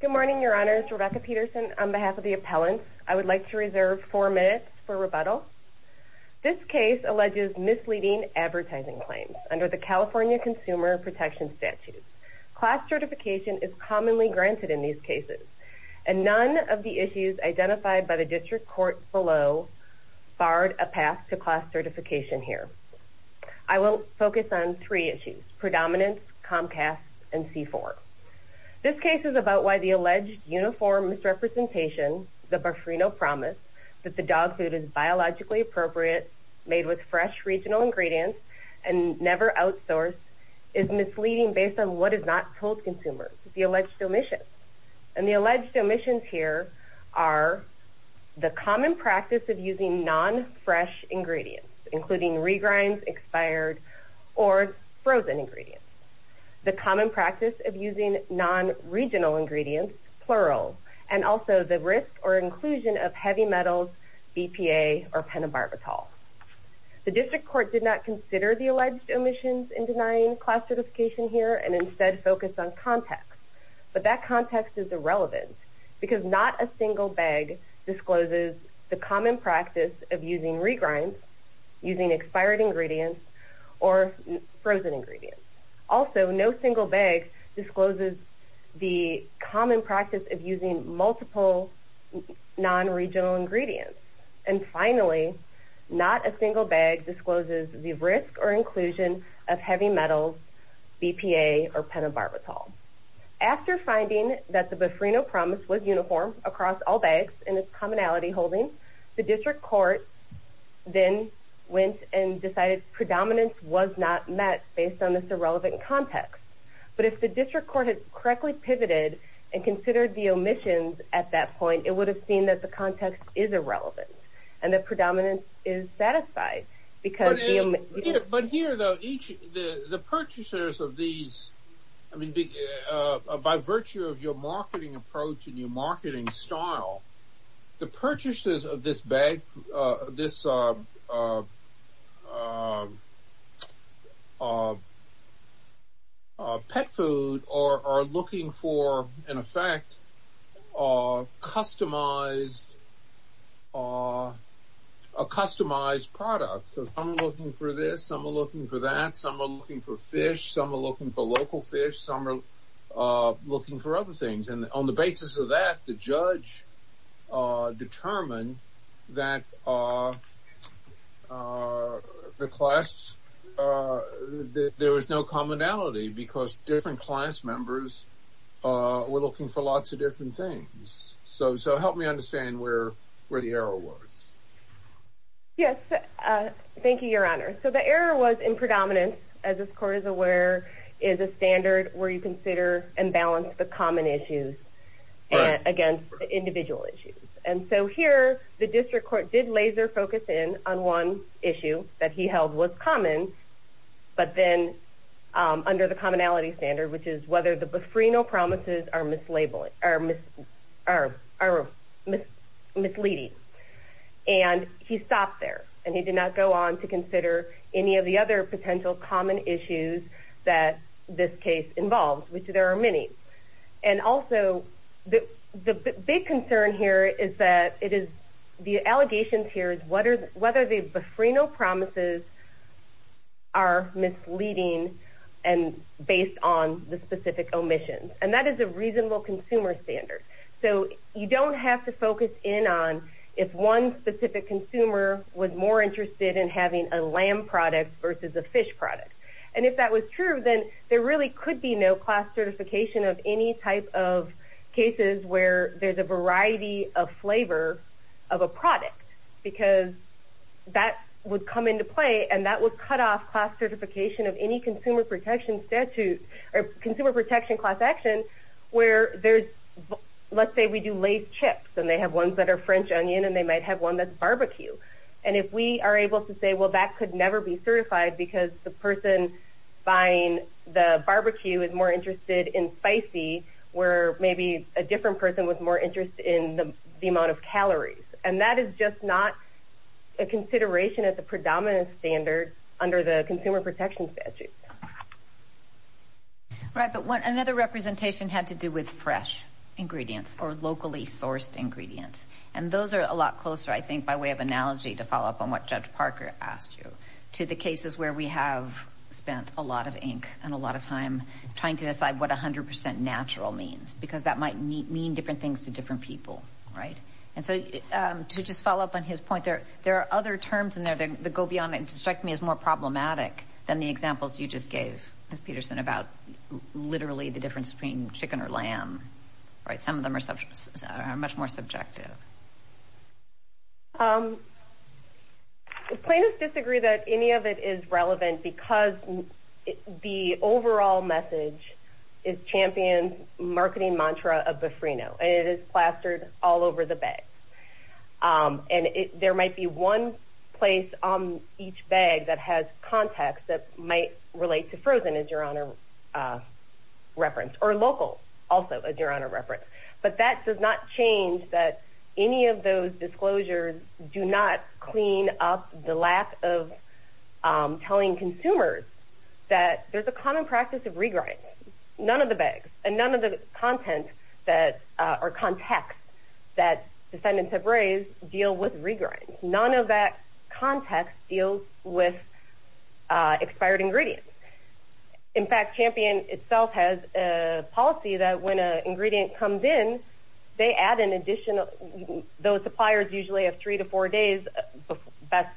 Good morning, Your Honors. Rebecca Peterson on behalf of the appellants. I would like to reserve four minutes for rebuttal. This case alleges misleading advertising claims under the California Consumer Protection Statute. Class certification is commonly granted in these cases and none of the issues identified by the district court below barred a path to class certification here. I will focus on three issues, predominance, Comcast, and C4. This case is about why the alleged uniform misrepresentation, the Barfrino promise, that the dog food is biologically appropriate, made with fresh regional ingredients, and never outsourced, is misleading based on what is not told consumers, the alleged omissions. And the alleged omissions here are the common practice of using non-fresh ingredients, including regrinds, expired, or frozen ingredients. The common practice of using non-regional ingredients, plural, and also the risk or inclusion of heavy metals, BPA, or pentobarbital. The district court did not consider the alleged omissions in denying class certification here and instead focused on context, but that context is irrelevant because not a common practice of using regrinds, using expired ingredients, or frozen ingredients. Also, no single bag discloses the common practice of using multiple non-regional ingredients. And finally, not a single bag discloses the risk or inclusion of heavy metals, BPA, or pentobarbital. After finding that the Barfrino promise was the district court, then went and decided predominance was not met based on this irrelevant context. But if the district court had correctly pivoted and considered the omissions at that point, it would have seen that the context is irrelevant and the predominance is satisfied because the omissions... But here, though, each, the purchasers of these, I mean, by virtue of your this bag, this pet food, are looking for, in effect, customized, a customized product. So some are looking for this, some are looking for that, some are looking for fish, some are looking for local fish, some are looking for other things. And on the basis of that, the judge determined that the class, that there was no commonality because different class members were looking for lots of different things. So help me understand where the error was. Yes. Thank you, Your Honor. So the error was in predominance, as this court is a standard where you consider and balance the common issues against individual issues. And so here, the district court did laser focus in on one issue that he held was common, but then under the commonality standard, which is whether the Barfrino promises are misleading. And he stopped there, and he did not go on to consider any of the other potential common issues that this case involves, which there are many. And also, the big concern here is that it is, the allegations here is whether the Barfrino promises are misleading and based on the specific omission. And that is a reasonable consumer standard. So you don't have to focus in on if one specific consumer was more interested in having a lamb product versus a fish product. And if that was true, then there really could be no class certification of any type of cases where there's a variety of flavor of a product because that would come into play, and that would cut off class certification of any consumer protection statute or consumer protection class protection where there's, let's say we do Lays chips, and they have ones that are French onion, and they might have one that's barbecue. And if we are able to say, well, that could never be certified because the person buying the barbecue is more interested in spicy, where maybe a different person was more interested in the amount of calories. And that is just not a consideration at the predominant standard under the consumer protection statute. Right. But another representation had to do with fresh ingredients or locally sourced ingredients. And those are a lot closer, I think, by way of analogy to follow up on what Judge Parker asked you, to the cases where we have spent a lot of ink and a lot of time trying to decide what 100% natural means, because that might mean different things to different people. Right. And so to just follow up on his point, there are other terms in there that go beyond it and more problematic than the examples you just gave, Ms. Peterson, about literally the difference between chicken or lamb. Right. Some of them are much more subjective. Plaintiffs disagree that any of it is relevant because the overall message is championed marketing mantra of Bifrino. It is plastered all over the bag. And there might be one place on each bag that has context that might relate to frozen, as Your Honor referenced, or local also, as Your Honor referenced. But that does not change that any of those disclosures do not clean up the lack of telling consumers that there is a common practice of regrinding. None of the bags and none of the content or context that defendants have raised deal with regrind. None of that context deals with expired ingredients. In fact, Champion itself has a policy that when an ingredient comes in, they add an additional, those suppliers usually have three to four days, best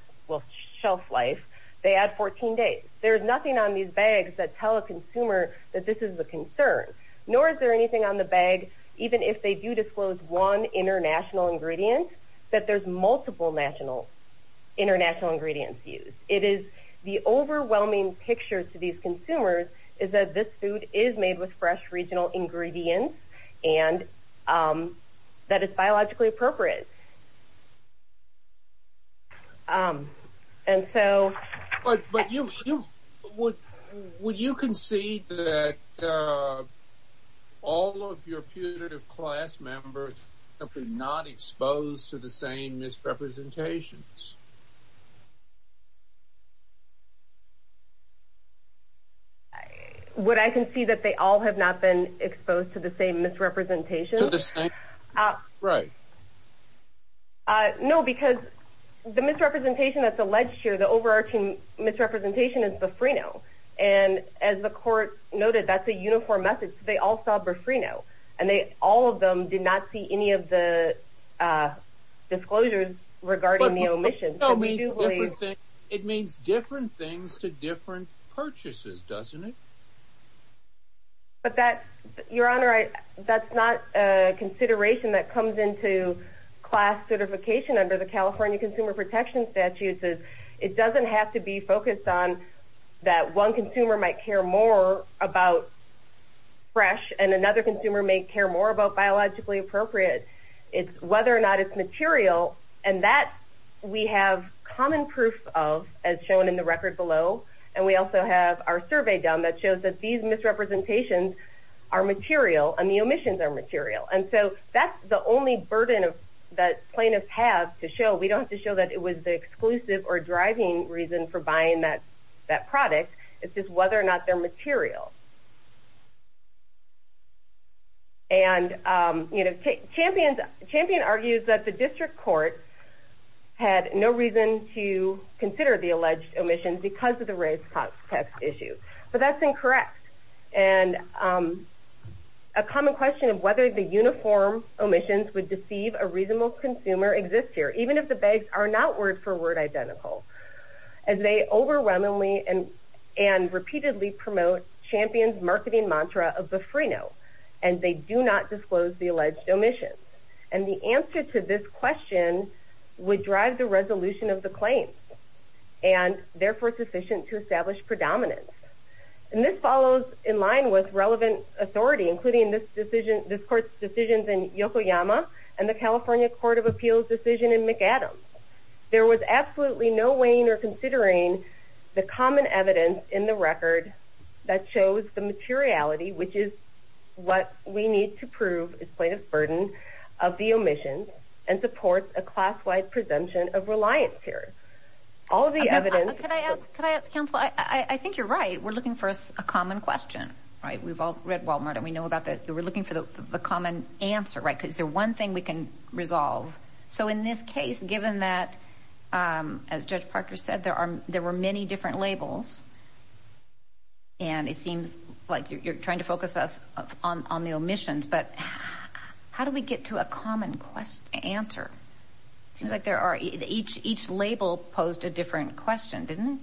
shelf life, they add 14 days. There's nothing on these bags that tell a consumer that this is a concern, nor is there anything on the bag, even if they do disclose one international ingredient, that there's multiple national, international ingredients used. It is the overwhelming picture to these consumers is that this food is made with fresh regional ingredients, and that is biologically appropriate. And so, but you would, would you concede that all of your punitive class members have been not exposed to the same misrepresentations? What I can see that they all have not been exposed to the same misrepresentation. Right. No, because the misrepresentation that's alleged here, the overarching misrepresentation is the Freno. And as the court noted, that's a uniform message. They all saw Burfrino, and they, all of them did not see any of the disclosures regarding the omission. It means different things to different purchases, doesn't it? But that, Your Honor, that's not a consideration that comes into class certification under the California Consumer Protection Statutes. It doesn't have to be focused on that one consumer might care more about fresh, and another consumer may care more about biologically appropriate. It's whether or not it's material, and that we have common proof of, as shown in the record below. And we also have our survey done that shows that these misrepresentations are material, and the omissions are material. And so that's the only burden that plaintiffs have to show. We don't have to show that it was the exclusive or driving reason for buying that product. It's just whether or not they're material. And, you know, Champion argues that the district court had no reason to consider the alleged omissions because of the race contest issue. But that's incorrect. And a common question of whether the uniform omissions would be for word identical, as they overwhelmingly and repeatedly promote Champion's marketing mantra of the free note, and they do not disclose the alleged omission. And the answer to this question would drive the resolution of the claim, and therefore sufficient to establish predominance. And this follows in line with relevant authority, including this decision, this court's decisions in Yokoyama, and the California Court of Appeals decision in Adams. There was absolutely no weighing or considering the common evidence in the record that shows the materiality, which is what we need to prove is plaintiff's burden of the omissions and supports a class-wide presumption of reliance here. All of the evidence... Can I ask, counsel, I think you're right. We're looking for a common question, right? We've all read Walmart and we know about that. We're looking for the common answer, right? Because there's one thing we can resolve. So in this case, given that, as Judge Parker said, there were many different labels, and it seems like you're trying to focus us on the omissions, but how do we get to a common answer? It seems like there are... Each label posed a different question, didn't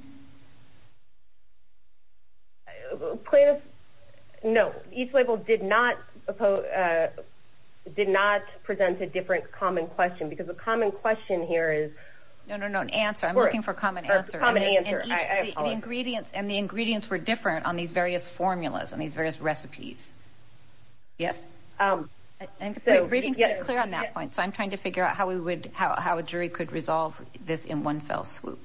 it? Plaintiff... No, each label did not present a different common question, because the common question here is... No, no, no, an answer. I'm looking for a common answer. A common answer, I apologize. And the ingredients were different on these various formulas, on these various recipes. Yes? I think the briefing's been clear on that point, so I'm trying to figure out how a jury could resolve this in one fell swoop.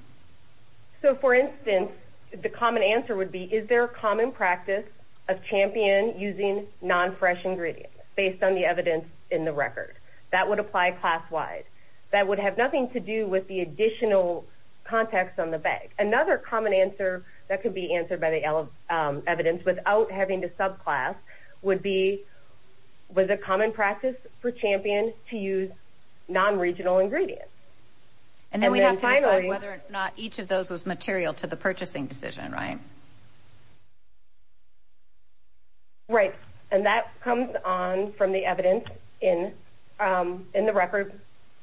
So, for instance, the common answer would be, is there a common practice of champion using non-fresh ingredients, based on the evidence in the record? That would apply class-wide. That would have nothing to do with the additional context on the bag. Another common answer that could be answered by the evidence, without having to subclass, would be, was a common practice for champion to use non-regional ingredients? And then we'd have to decide whether or not each of those was material to the purchasing decision, right? Right. And that comes on from the evidence in the record,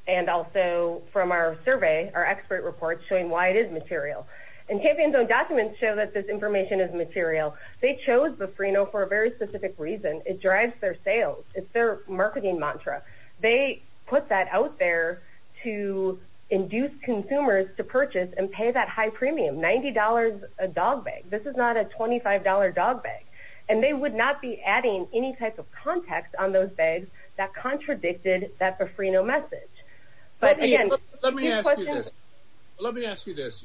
and also from our survey, our expert report, showing why it is material. And Champion's own documents show that this information is material. They chose the Frino for a very specific reason. It drives their sales. It's their marketing mantra. They put that out there to induce consumers to purchase and pay that high premium, $90 a dog bag. This is not a $25 dog bag. And they would not be adding any type of context on those bags that contradicted that for Frino message. But, again, let me ask you this. Let me ask you this.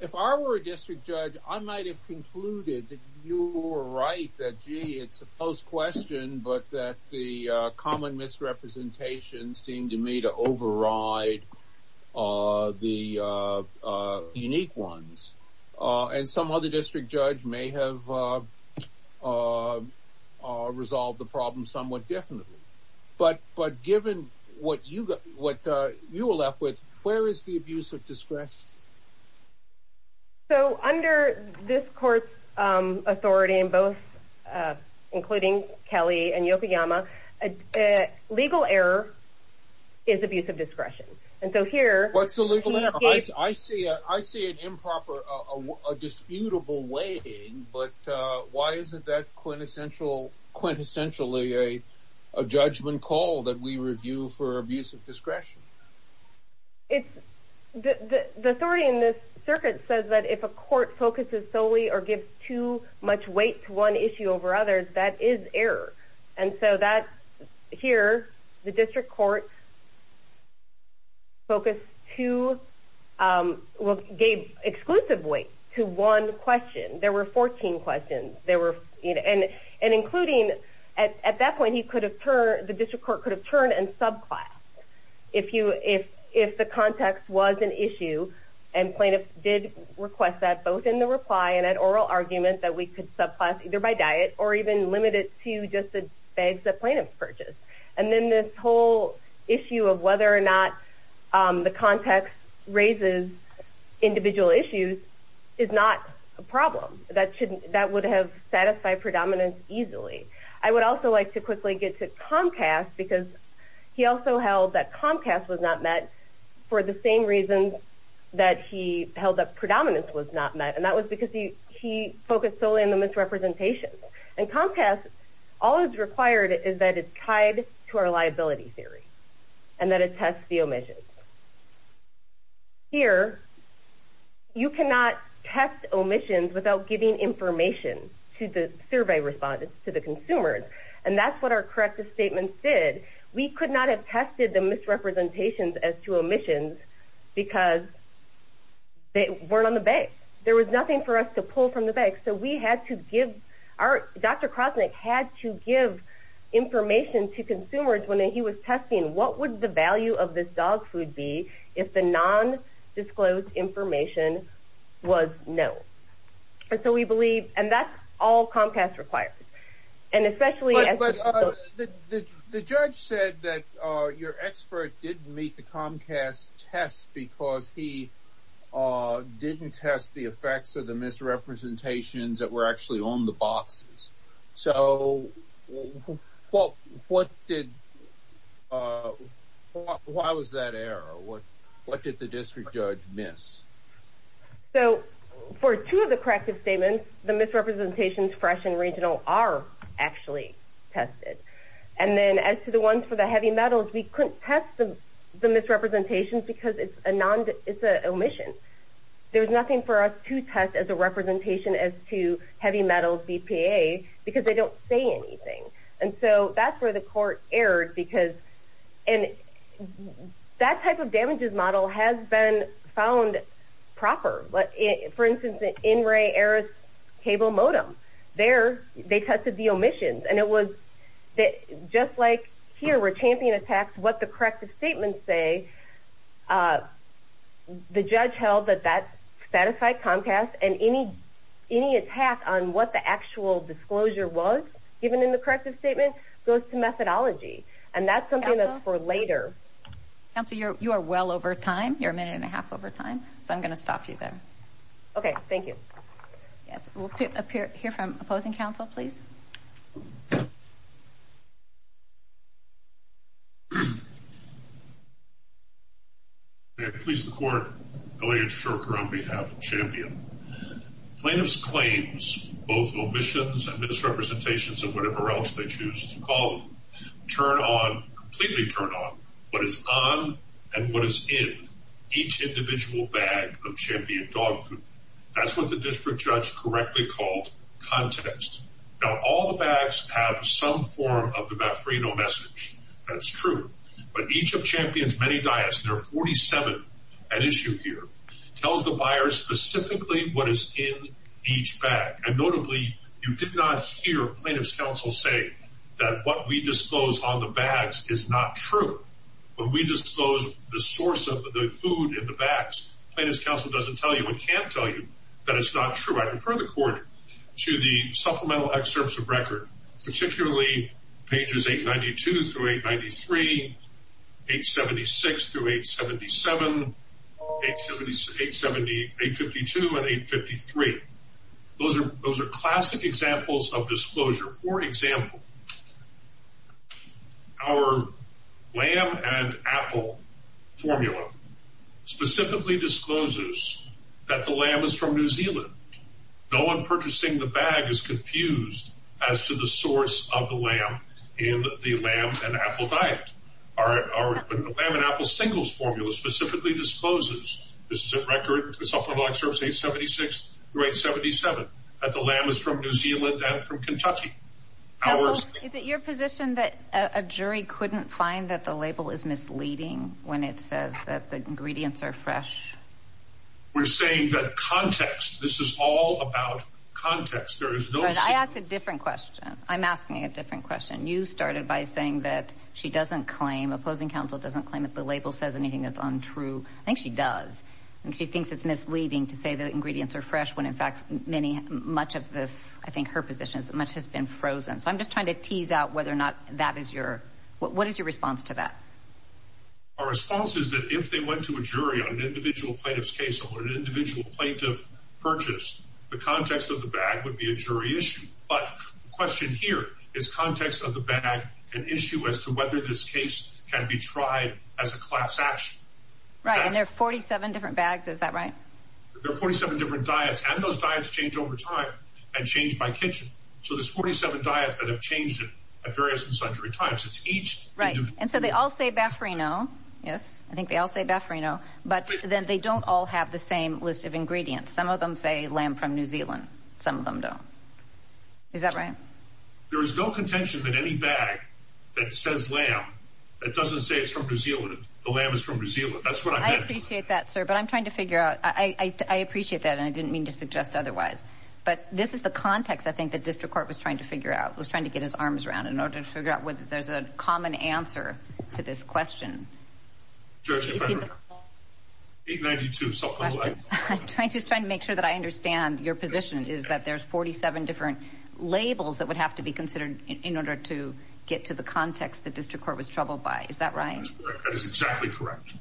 If I were a district judge, I might have concluded that you were right, that, gee, it's a post-question, but that the common misrepresentations seem to me to override the unique ones. And some other district judge may have resolved the problem somewhat differently. But given what you were left with, where is the abuse of discretion? So, under this court's authority in both, including Kelly and Yokoyama, legal error is abuse of discretion. And so here... What's the legal error? I see it improper, a disputable way, but why isn't that quintessential, quintessentially a judgment call that we review for abuse of discretion? It's... The authority in this circuit says that if a court focuses solely or gives too much weight to one issue over others, that is error. And so that, here, the district court focused too... Well, gave exclusive weight to one question. There were 14 questions. There were... And including... At that point, he could have turned... The district court could have turned and subclassed if the context was an issue and plaintiff did request that both in the reply and at oral argument that we could subclass either by diet or even limit it to just the bags that plaintiffs purchased. And then this whole issue of whether or not the context raises individual issues is not a problem. That would have satisfied predominance easily. I would also like to quickly get to Comcast because he also held that Comcast was not met for the same reason that he held that predominance was not met. And that was because he focused solely on the misrepresentation. And Comcast, all it's required is that it's tied to our liability theory and that it tests the omissions. Here, you cannot test omissions without giving information to the survey respondents, to the consumers. And that's what our corrective statements did. We could not have tested the misrepresentations as to omissions because they weren't on the bag. There was nothing for us to pull from the bag. So we had to give... Dr. Krosnick had to give information to consumers when he was testing what would the value of this all Comcast required. And especially... But the judge said that your expert didn't meet the Comcast test because he didn't test the effects of the misrepresentations that were actually on the boxes. So why was that error? What did the district judge miss? So for two of the corrective statements, the misrepresentations fresh and regional are actually tested. And then as to the ones for the heavy metals, we couldn't test the misrepresentations because it's an omission. There was nothing for us to test as a representation as to heavy metals BPA because they don't say anything. And so that's where the court erred because... And that type of damages model has been found proper. For instance, the NRA errors cable modem, there they tested the omissions. And it was just like here where champion attacks what the corrective statements say, the judge held that that satisfied Comcast and any attack on what the actual disclosure was given in the corrective statement goes to and that's something that's for later. Counselor, you are well over time. You're a minute and a half over time. So I'm going to stop you there. Okay. Thank you. Yes. We'll hear from opposing counsel, please. May it please the court, Elliot Shurker on behalf of Champion. Plaintiffs claims both omissions and misrepresentations of whatever else they choose to call them turn on, completely turn on what is on and what is in each individual bag of Champion dog food. That's what the district judge correctly called context. Now all the bags have some form of the baffrino message. That's true. But each of Champion's many diets, there are 47 at issue here, tells the buyer specifically what is in each bag. And notably, you did not hear plaintiff's counsel say that what we disclose on the bags is not true. When we disclose the source of the food in the bags, plaintiff's counsel doesn't tell you and can't tell you that it's not true. I confer the court to the supplemental excerpts of record, particularly pages 892 through 893, 876 through 877, 852 and 853. Those are classic examples of disclosure. For example, our lamb and apple formula specifically discloses that the lamb is from New Zealand. No one purchasing the bag is confused as to the source of the lamb in the lamb and apple diet. Our lamb and apple singles formula specifically disposes. This is a record, the supplemental excerpts 876 through 877, that the lamb is from New Zealand and from Kentucky. Counsel, is it your position that a jury couldn't find that the label is misleading when it says that the ingredients are fresh? We're saying that context, this is all about context. There is no... I asked a different question. I'm asking a different question. You started by saying that she doesn't claim, opposing counsel doesn't claim that the label says anything that's untrue. I think she does. She thinks it's misleading to say the ingredients are fresh when in fact many, much of this, I think her position is that much has been frozen. So I'm just trying to tease out whether or not that is your, what is your response to that? Our response is that if they went to a jury on an individual plaintiff's case or an individual plaintiff purchased, the context of the bag would be a jury issue. But the question here is context of the bag, an issue as to whether this case can be tried as a class action. Right. And there are 47 different bags. Is that right? There are 47 different diets and those diets change over time and change by kitchen. So there's 47 diets that have changed at various and sundry times. It's each... Right. And so they all say Baffarino. Yes. I think they all say Baffarino, but then they don't all have the same list of ingredients. Some of them say lamb from New Zealand. Some of them don't. Is that right? There is no contention that any bag that says lamb, that doesn't say it's from New Zealand, the lamb is from New Zealand. That's what I meant. I appreciate that, sir. But I'm trying to figure out, I appreciate that and I didn't mean to suggest otherwise. But this is the context I think the district court was trying to figure out, was trying to get his arms around in order to figure out whether there's a common answer to this question. Judge, if I could... 892. I'm just trying to make sure that I understand your position is that there's 47 different labels that would have to be considered in order to get to the context the district court was troubled by. Is that right? That's correct. That is exactly correct.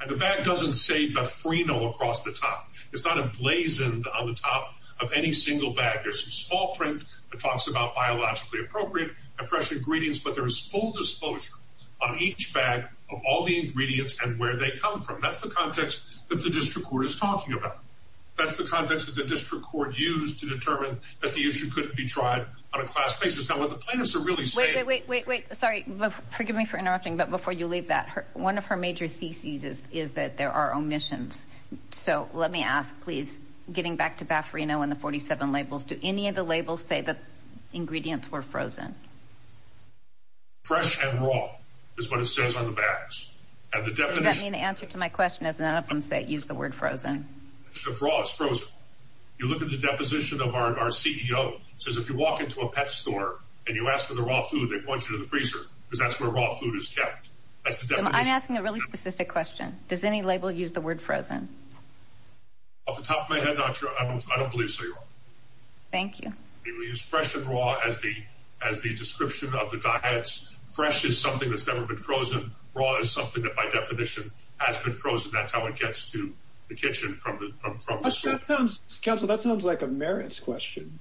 And the bag doesn't say Baffarino across the top. It's not emblazoned on the top of any single bag. There's some small print that talks about biologically appropriate and fresh ingredients, but there is full disclosure on each bag of all the ingredients and where they come from. That's the context that the district court is talking about. That's the context that the district court used to determine that the issue couldn't be tried on a class basis. Now, what the plaintiffs are really saying... Wait, wait, wait, wait. Sorry, forgive me for interrupting, but before you leave that, one of her major theses is that there are omissions. So let me ask, please, getting back to Baffarino and the 47 labels, do any of the labels say that ingredients were frozen? Fresh and raw is what it says on the bags. And the definition... Does that mean the answer to my question is none of them use the word frozen? Raw is frozen. You look at the deposition of our CEO. He says if you walk into a pet store and you ask for the raw food, they point you to the freezer because that's where raw food is kept. I'm asking a really specific question. Does any label use the word frozen? Off the top of my head, not sure. I don't believe so, Your Honor. Thank you. We use fresh and raw as the description of the diets. Fresh is something that's never been frozen. Raw is something that by definition has been frozen. That's how it gets to the kitchen from the... That sounds... Counsel, that sounds like a merits question.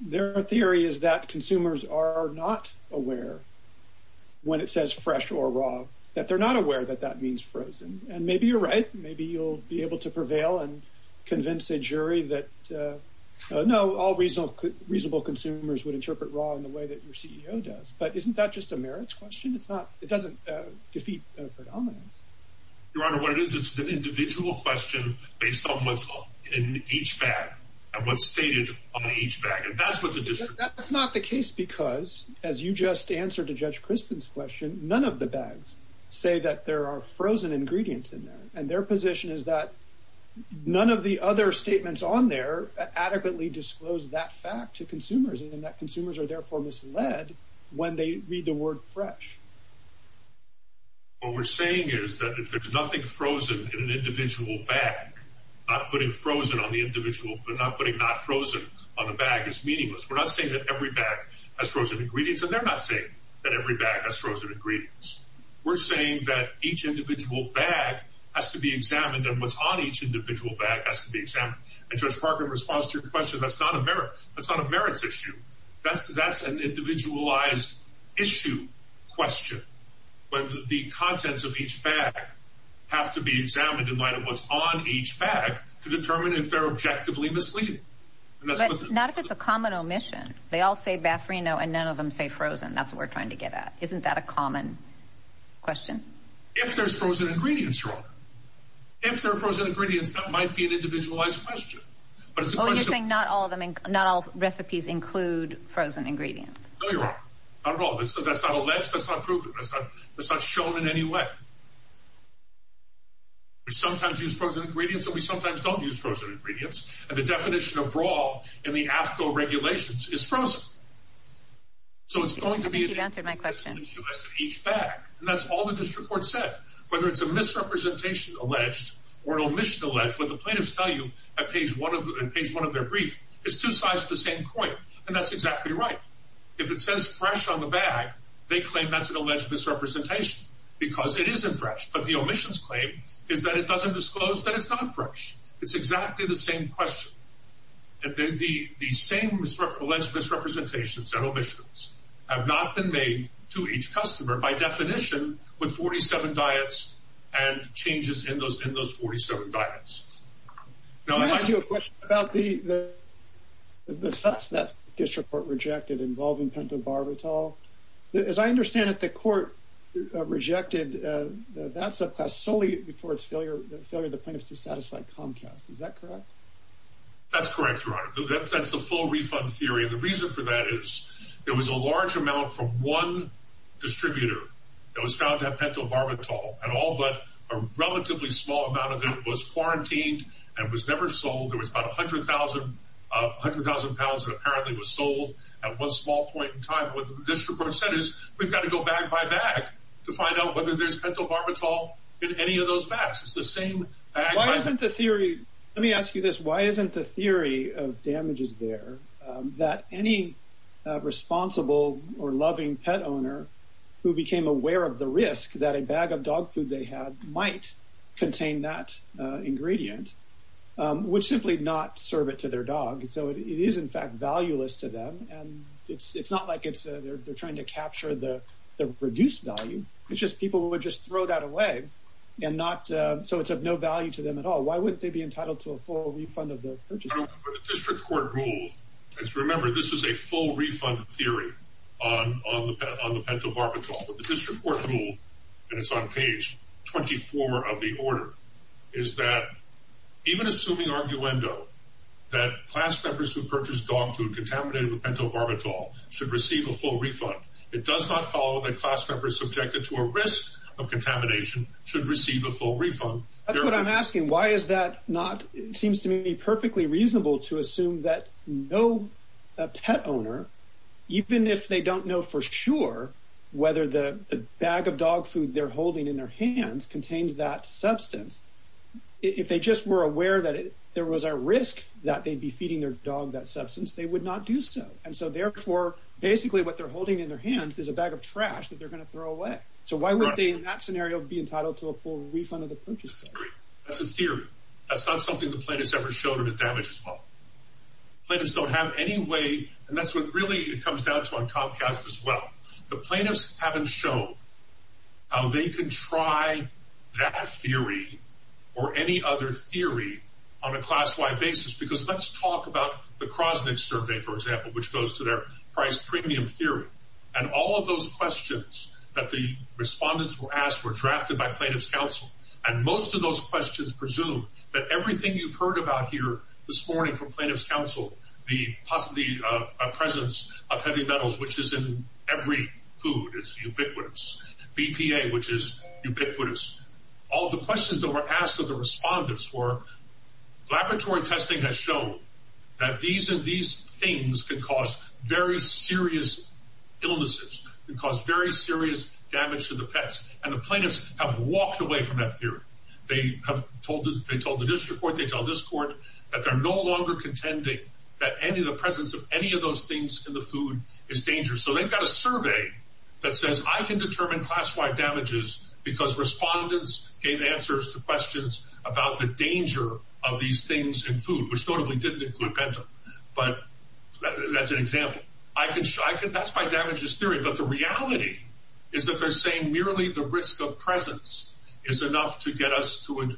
Their theory is that consumers are not aware when it says fresh or raw, that they're not aware that that means frozen. And maybe you're right. Maybe you'll be able to prevail and convince a jury that, no, all reasonable consumers would interpret raw in the way that your CEO does. But isn't that just a merits question? It's not... It doesn't defeat a predominance. Your Honor, what it is, it's an individual question based on what's in each bag and what's stated on each bag. And that's what the district... That's not the case because, as you just answered to Judge Kristen's question, none of the bags say that there are frozen ingredients in there. And their position is that none of the other statements on there adequately disclose that fact to consumers and that consumers are therefore misled when they read the word fresh. What we're saying is that if there's nothing frozen in an individual bag, not putting frozen on the individual, but not putting not frozen on the bag is meaningless. We're not saying that every bag has frozen ingredients, and they're not saying that every bag has frozen ingredients. We're saying that each individual bag has to be examined and what's on each individual bag has to be examined. And Judge Parker, in response to your question, that's not a merit... That's not a merits issue. That's an individualized issue question. But the contents of each bag have to be examined in light of what's on each bag to determine if they're objectively misleading. But not if it's a common omission. They all say Baffrino and none of them say frozen. That's what we're trying to get at. Isn't that a common question? If there's frozen ingredients, Your Honor. If there are frozen ingredients, that might be an individualized question. But it's a question... Oh, you're saying not all recipes include frozen ingredients. No, Your Honor. Not at all. That's not alleged. That's not proven. That's not shown in any way. We sometimes use frozen ingredients, and we sometimes don't use frozen ingredients. And the definition of raw in the AFCO regulations is frozen. So it's going to be an individualized issue question in each bag. And that's all the district court said. Whether it's a misrepresentation alleged or an omission alleged, what the plaintiffs tell you at page one of their brief is two sides of the same coin. And that's exactly right. If it says fresh on the bag, they claim that's an alleged misrepresentation because it isn't fresh. But the omissions claim is that it doesn't disclose that it's not fresh. It's exactly the same question. The same alleged misrepresentations and omissions have not been made to each customer by definition with 47 diets and changes in those 47 diets. Can I ask you a question about the sus that district court rejected involving pentobarbital? As I understand it, the court rejected that subclass solely before the failure of the plaintiffs to satisfy Comcast. Is that correct? That's correct, Your Honor. That's the full refund theory. And the reason for that is there was a large amount from one distributor that was found to have pentobarbital at all, but a relatively small amount of it was quarantined and was never sold. There was about 100,000 pounds that apparently was sold at one small point in time. What the district court said is we've got to go bag by bag to find out whether there's pentobarbital in any of those bags. It's the same bag by bag. Why isn't the theory, let me ask you this, why isn't the that a bag of dog food they had might contain that ingredient, would simply not serve it to their dog? So it is in fact valueless to them, and it's not like they're trying to capture the reduced value. It's just people would just throw that away, so it's of no value to them at all. Why wouldn't they be entitled to a full refund of the purchase? For the district court rule, and remember this is a full refund theory on the pentobarbital, but the district court rule, and it's on page 24 of the order, is that even assuming arguendo that class members who purchase dog food contaminated with pentobarbital should receive a full refund, it does not follow that class members subjected to a risk of contamination should receive a full refund. That's what I'm saying. It seems to me perfectly reasonable to assume that no pet owner, even if they don't know for sure whether the bag of dog food they're holding in their hands contains that substance, if they just were aware that there was a risk that they'd be feeding their dog that substance, they would not do so. And so therefore, basically what they're holding in their hands is a bag of trash that they're going to throw away. So why would they in that scenario be entitled to a full refund? That's not something the plaintiffs ever showed or did damage as well. Plaintiffs don't have any way, and that's what really it comes down to on Comcast as well. The plaintiffs haven't shown how they can try that theory or any other theory on a class-wide basis because let's talk about the Krosnick survey, for example, which goes to their price premium theory. And all of those questions that the respondents were asked were drafted by that everything you've heard about here this morning from plaintiff's counsel, the presence of heavy metals, which is in every food is ubiquitous. BPA, which is ubiquitous. All the questions that were asked of the respondents were laboratory testing has shown that these things could cause very serious illnesses, could cause very serious damage to the pets. And the plaintiffs have walked away from that theory. They told the district court, they tell this court that they're no longer contending that any of the presence of any of those things in the food is dangerous. So they've got a survey that says I can determine class-wide damages because respondents gave answers to questions about the danger of these things in food, which notably didn't include Bentham. But that's an example. That's my damages theory. But the reality is that they're saying merely the risk of presence is enough to get us to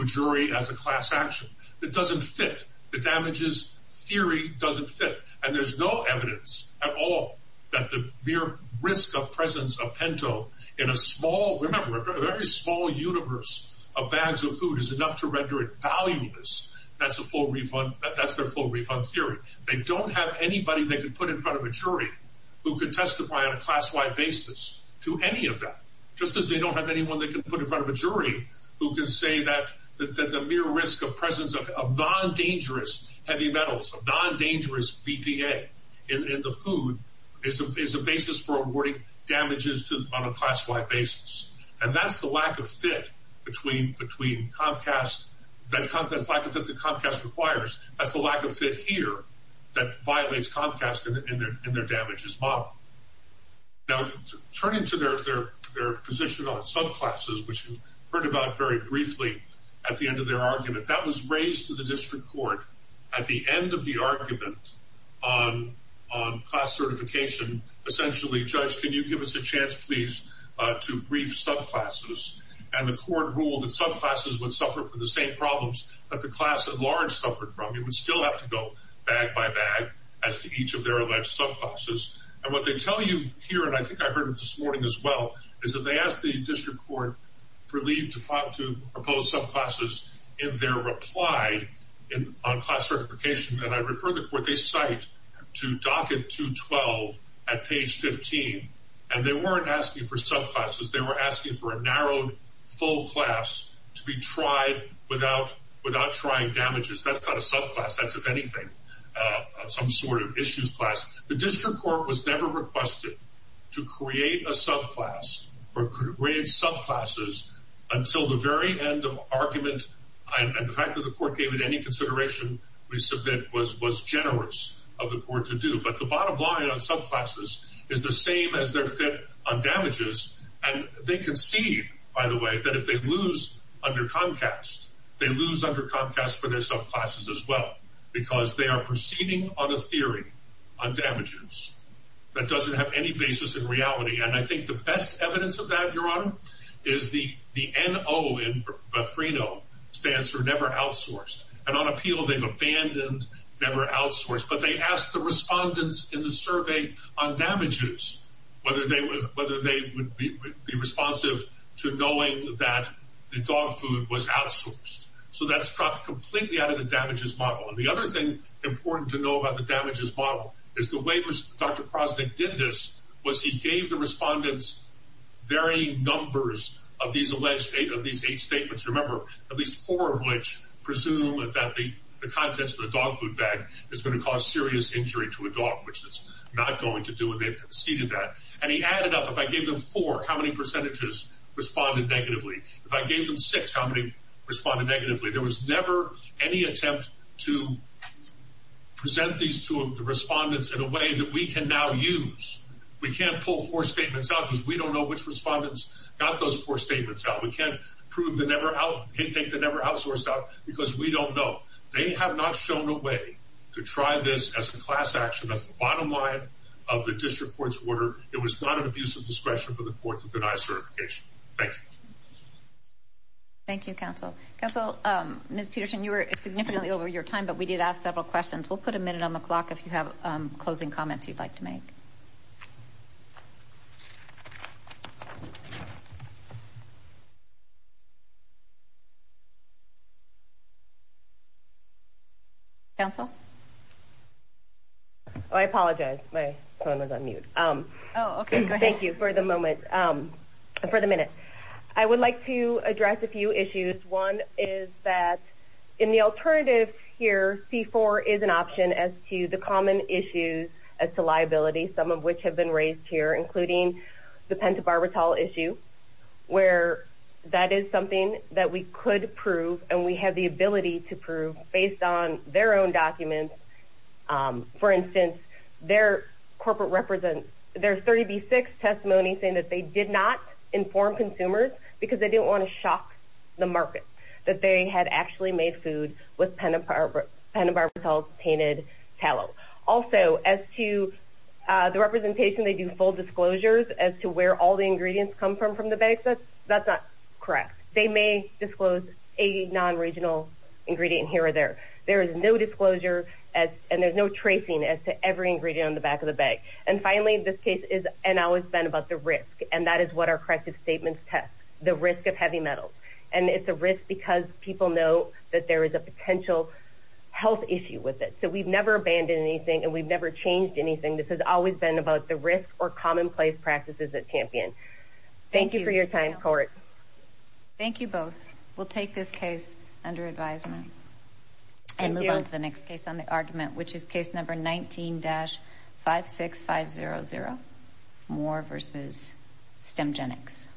a jury as a class action. It doesn't fit. The damages theory doesn't fit. And there's no evidence at all that the mere risk of presence of pento in a small, remember a very small universe of bags of food is enough to render it valueless. That's a full refund. That's their full refund theory. They don't have anybody they could put in front of a jury who could testify on a class-wide basis to any of that, just as they don't have anyone they can put in front of a jury who can say that the mere risk of presence of non-dangerous heavy metals, of non-dangerous BPA in the food is a basis for awarding damages to on a class-wide basis. And that's the lack of fit between Comcast, that's the lack of fit that Comcast requires. That's the lack of fit here that violates Comcast in their damages model. Now turning to their position on subclasses, which you heard about very briefly at the end of their argument, that was raised to the district court at the end of the argument on class certification. Essentially, Judge, can you give us a chance please to brief subclasses? And the court ruled that subclasses would suffer from the same problems that the class at large suffered from. You would still have to go bag by bag as to each of their alleged subclasses. And what they tell you here, and I think I heard it this morning as well, is that they asked the district court for leave to file to propose subclasses in their reply on class certification. And I refer the court, they cite to docket 212 at page 15, and they weren't asking for subclasses, they were asking for a narrowed class to be tried without trying damages. That's not a subclass, that's if anything, some sort of issues class. The district court was never requested to create a subclass or create subclasses until the very end of argument. And the fact that the court gave it any consideration, we submit, was generous of the court to do. But the bottom line on subclasses is the same as on damages. And they concede, by the way, that if they lose under Comcast, they lose under Comcast for their subclasses as well, because they are proceeding on a theory on damages that doesn't have any basis in reality. And I think the best evidence of that, Your Honor, is the the N.O. in Bethrino stands for never outsourced. And on appeal, they've abandoned never outsourced, but they asked the respondents in the survey on damages whether they would be responsive to knowing that the dog food was outsourced. So that struck completely out of the damages model. And the other thing important to know about the damages model is the way Dr. Prosnick did this was he gave the respondents varying numbers of these alleged, of these eight statements. Remember, at least four of which presume that the contents of the dog food bag is going to cause serious injury to a dog, which it's not going to do, and they've conceded that. And he added up, if I gave them four, how many percentages responded negatively. If I gave them six, how many responded negatively. There was never any attempt to present these to the respondents in a way that we can now use. We can't pull four statements out because we don't know which they never outsourced out because we don't know. They have not shown a way to try this as a class action. That's the bottom line of the district court's order. It was not an abuse of discretion for the court to deny certification. Thank you. Thank you, counsel. Counsel, Ms. Peterson, you were significantly over your time, but we did ask several questions. We'll put a minute on the clock if you have closing comments you'd like to make. Counsel? Oh, I apologize. My phone was on mute. Oh, okay. Thank you for the moment, for the minute. I would like to address a few issues. One is that in the alternative here, C4 is an option as to the common issues as to liability, some of which have been raised here, including the pentobarbital issue, where that is something that we could prove and we have the ability to prove based on their own documents. For instance, their corporate represents, their 30B6 testimony saying that they did not inform consumers because they didn't want to shock the market, that they had actually made food with pentobarbital-tainted tallow. Also, as to the representation, they do full disclosures as to where all the ingredients come from, from the bag. That's not correct. They may disclose a non-regional ingredient here or there. There is no disclosure and there's no tracing as to every ingredient on the back of the bag. And finally, this case has always been about the risk, and that is what our corrective statements test, the risk of heavy metals. And it's a risk because people know that there is a potential health issue with it. So we've never abandoned anything and we've never changed anything. This has always been about the risk or commonplace practices at Champion. Thank you for your time, Court. Thank you both. We'll take this case under advisement and move on to the next case on the argument, which is case number 19-56500, Moore v. Stemgenics.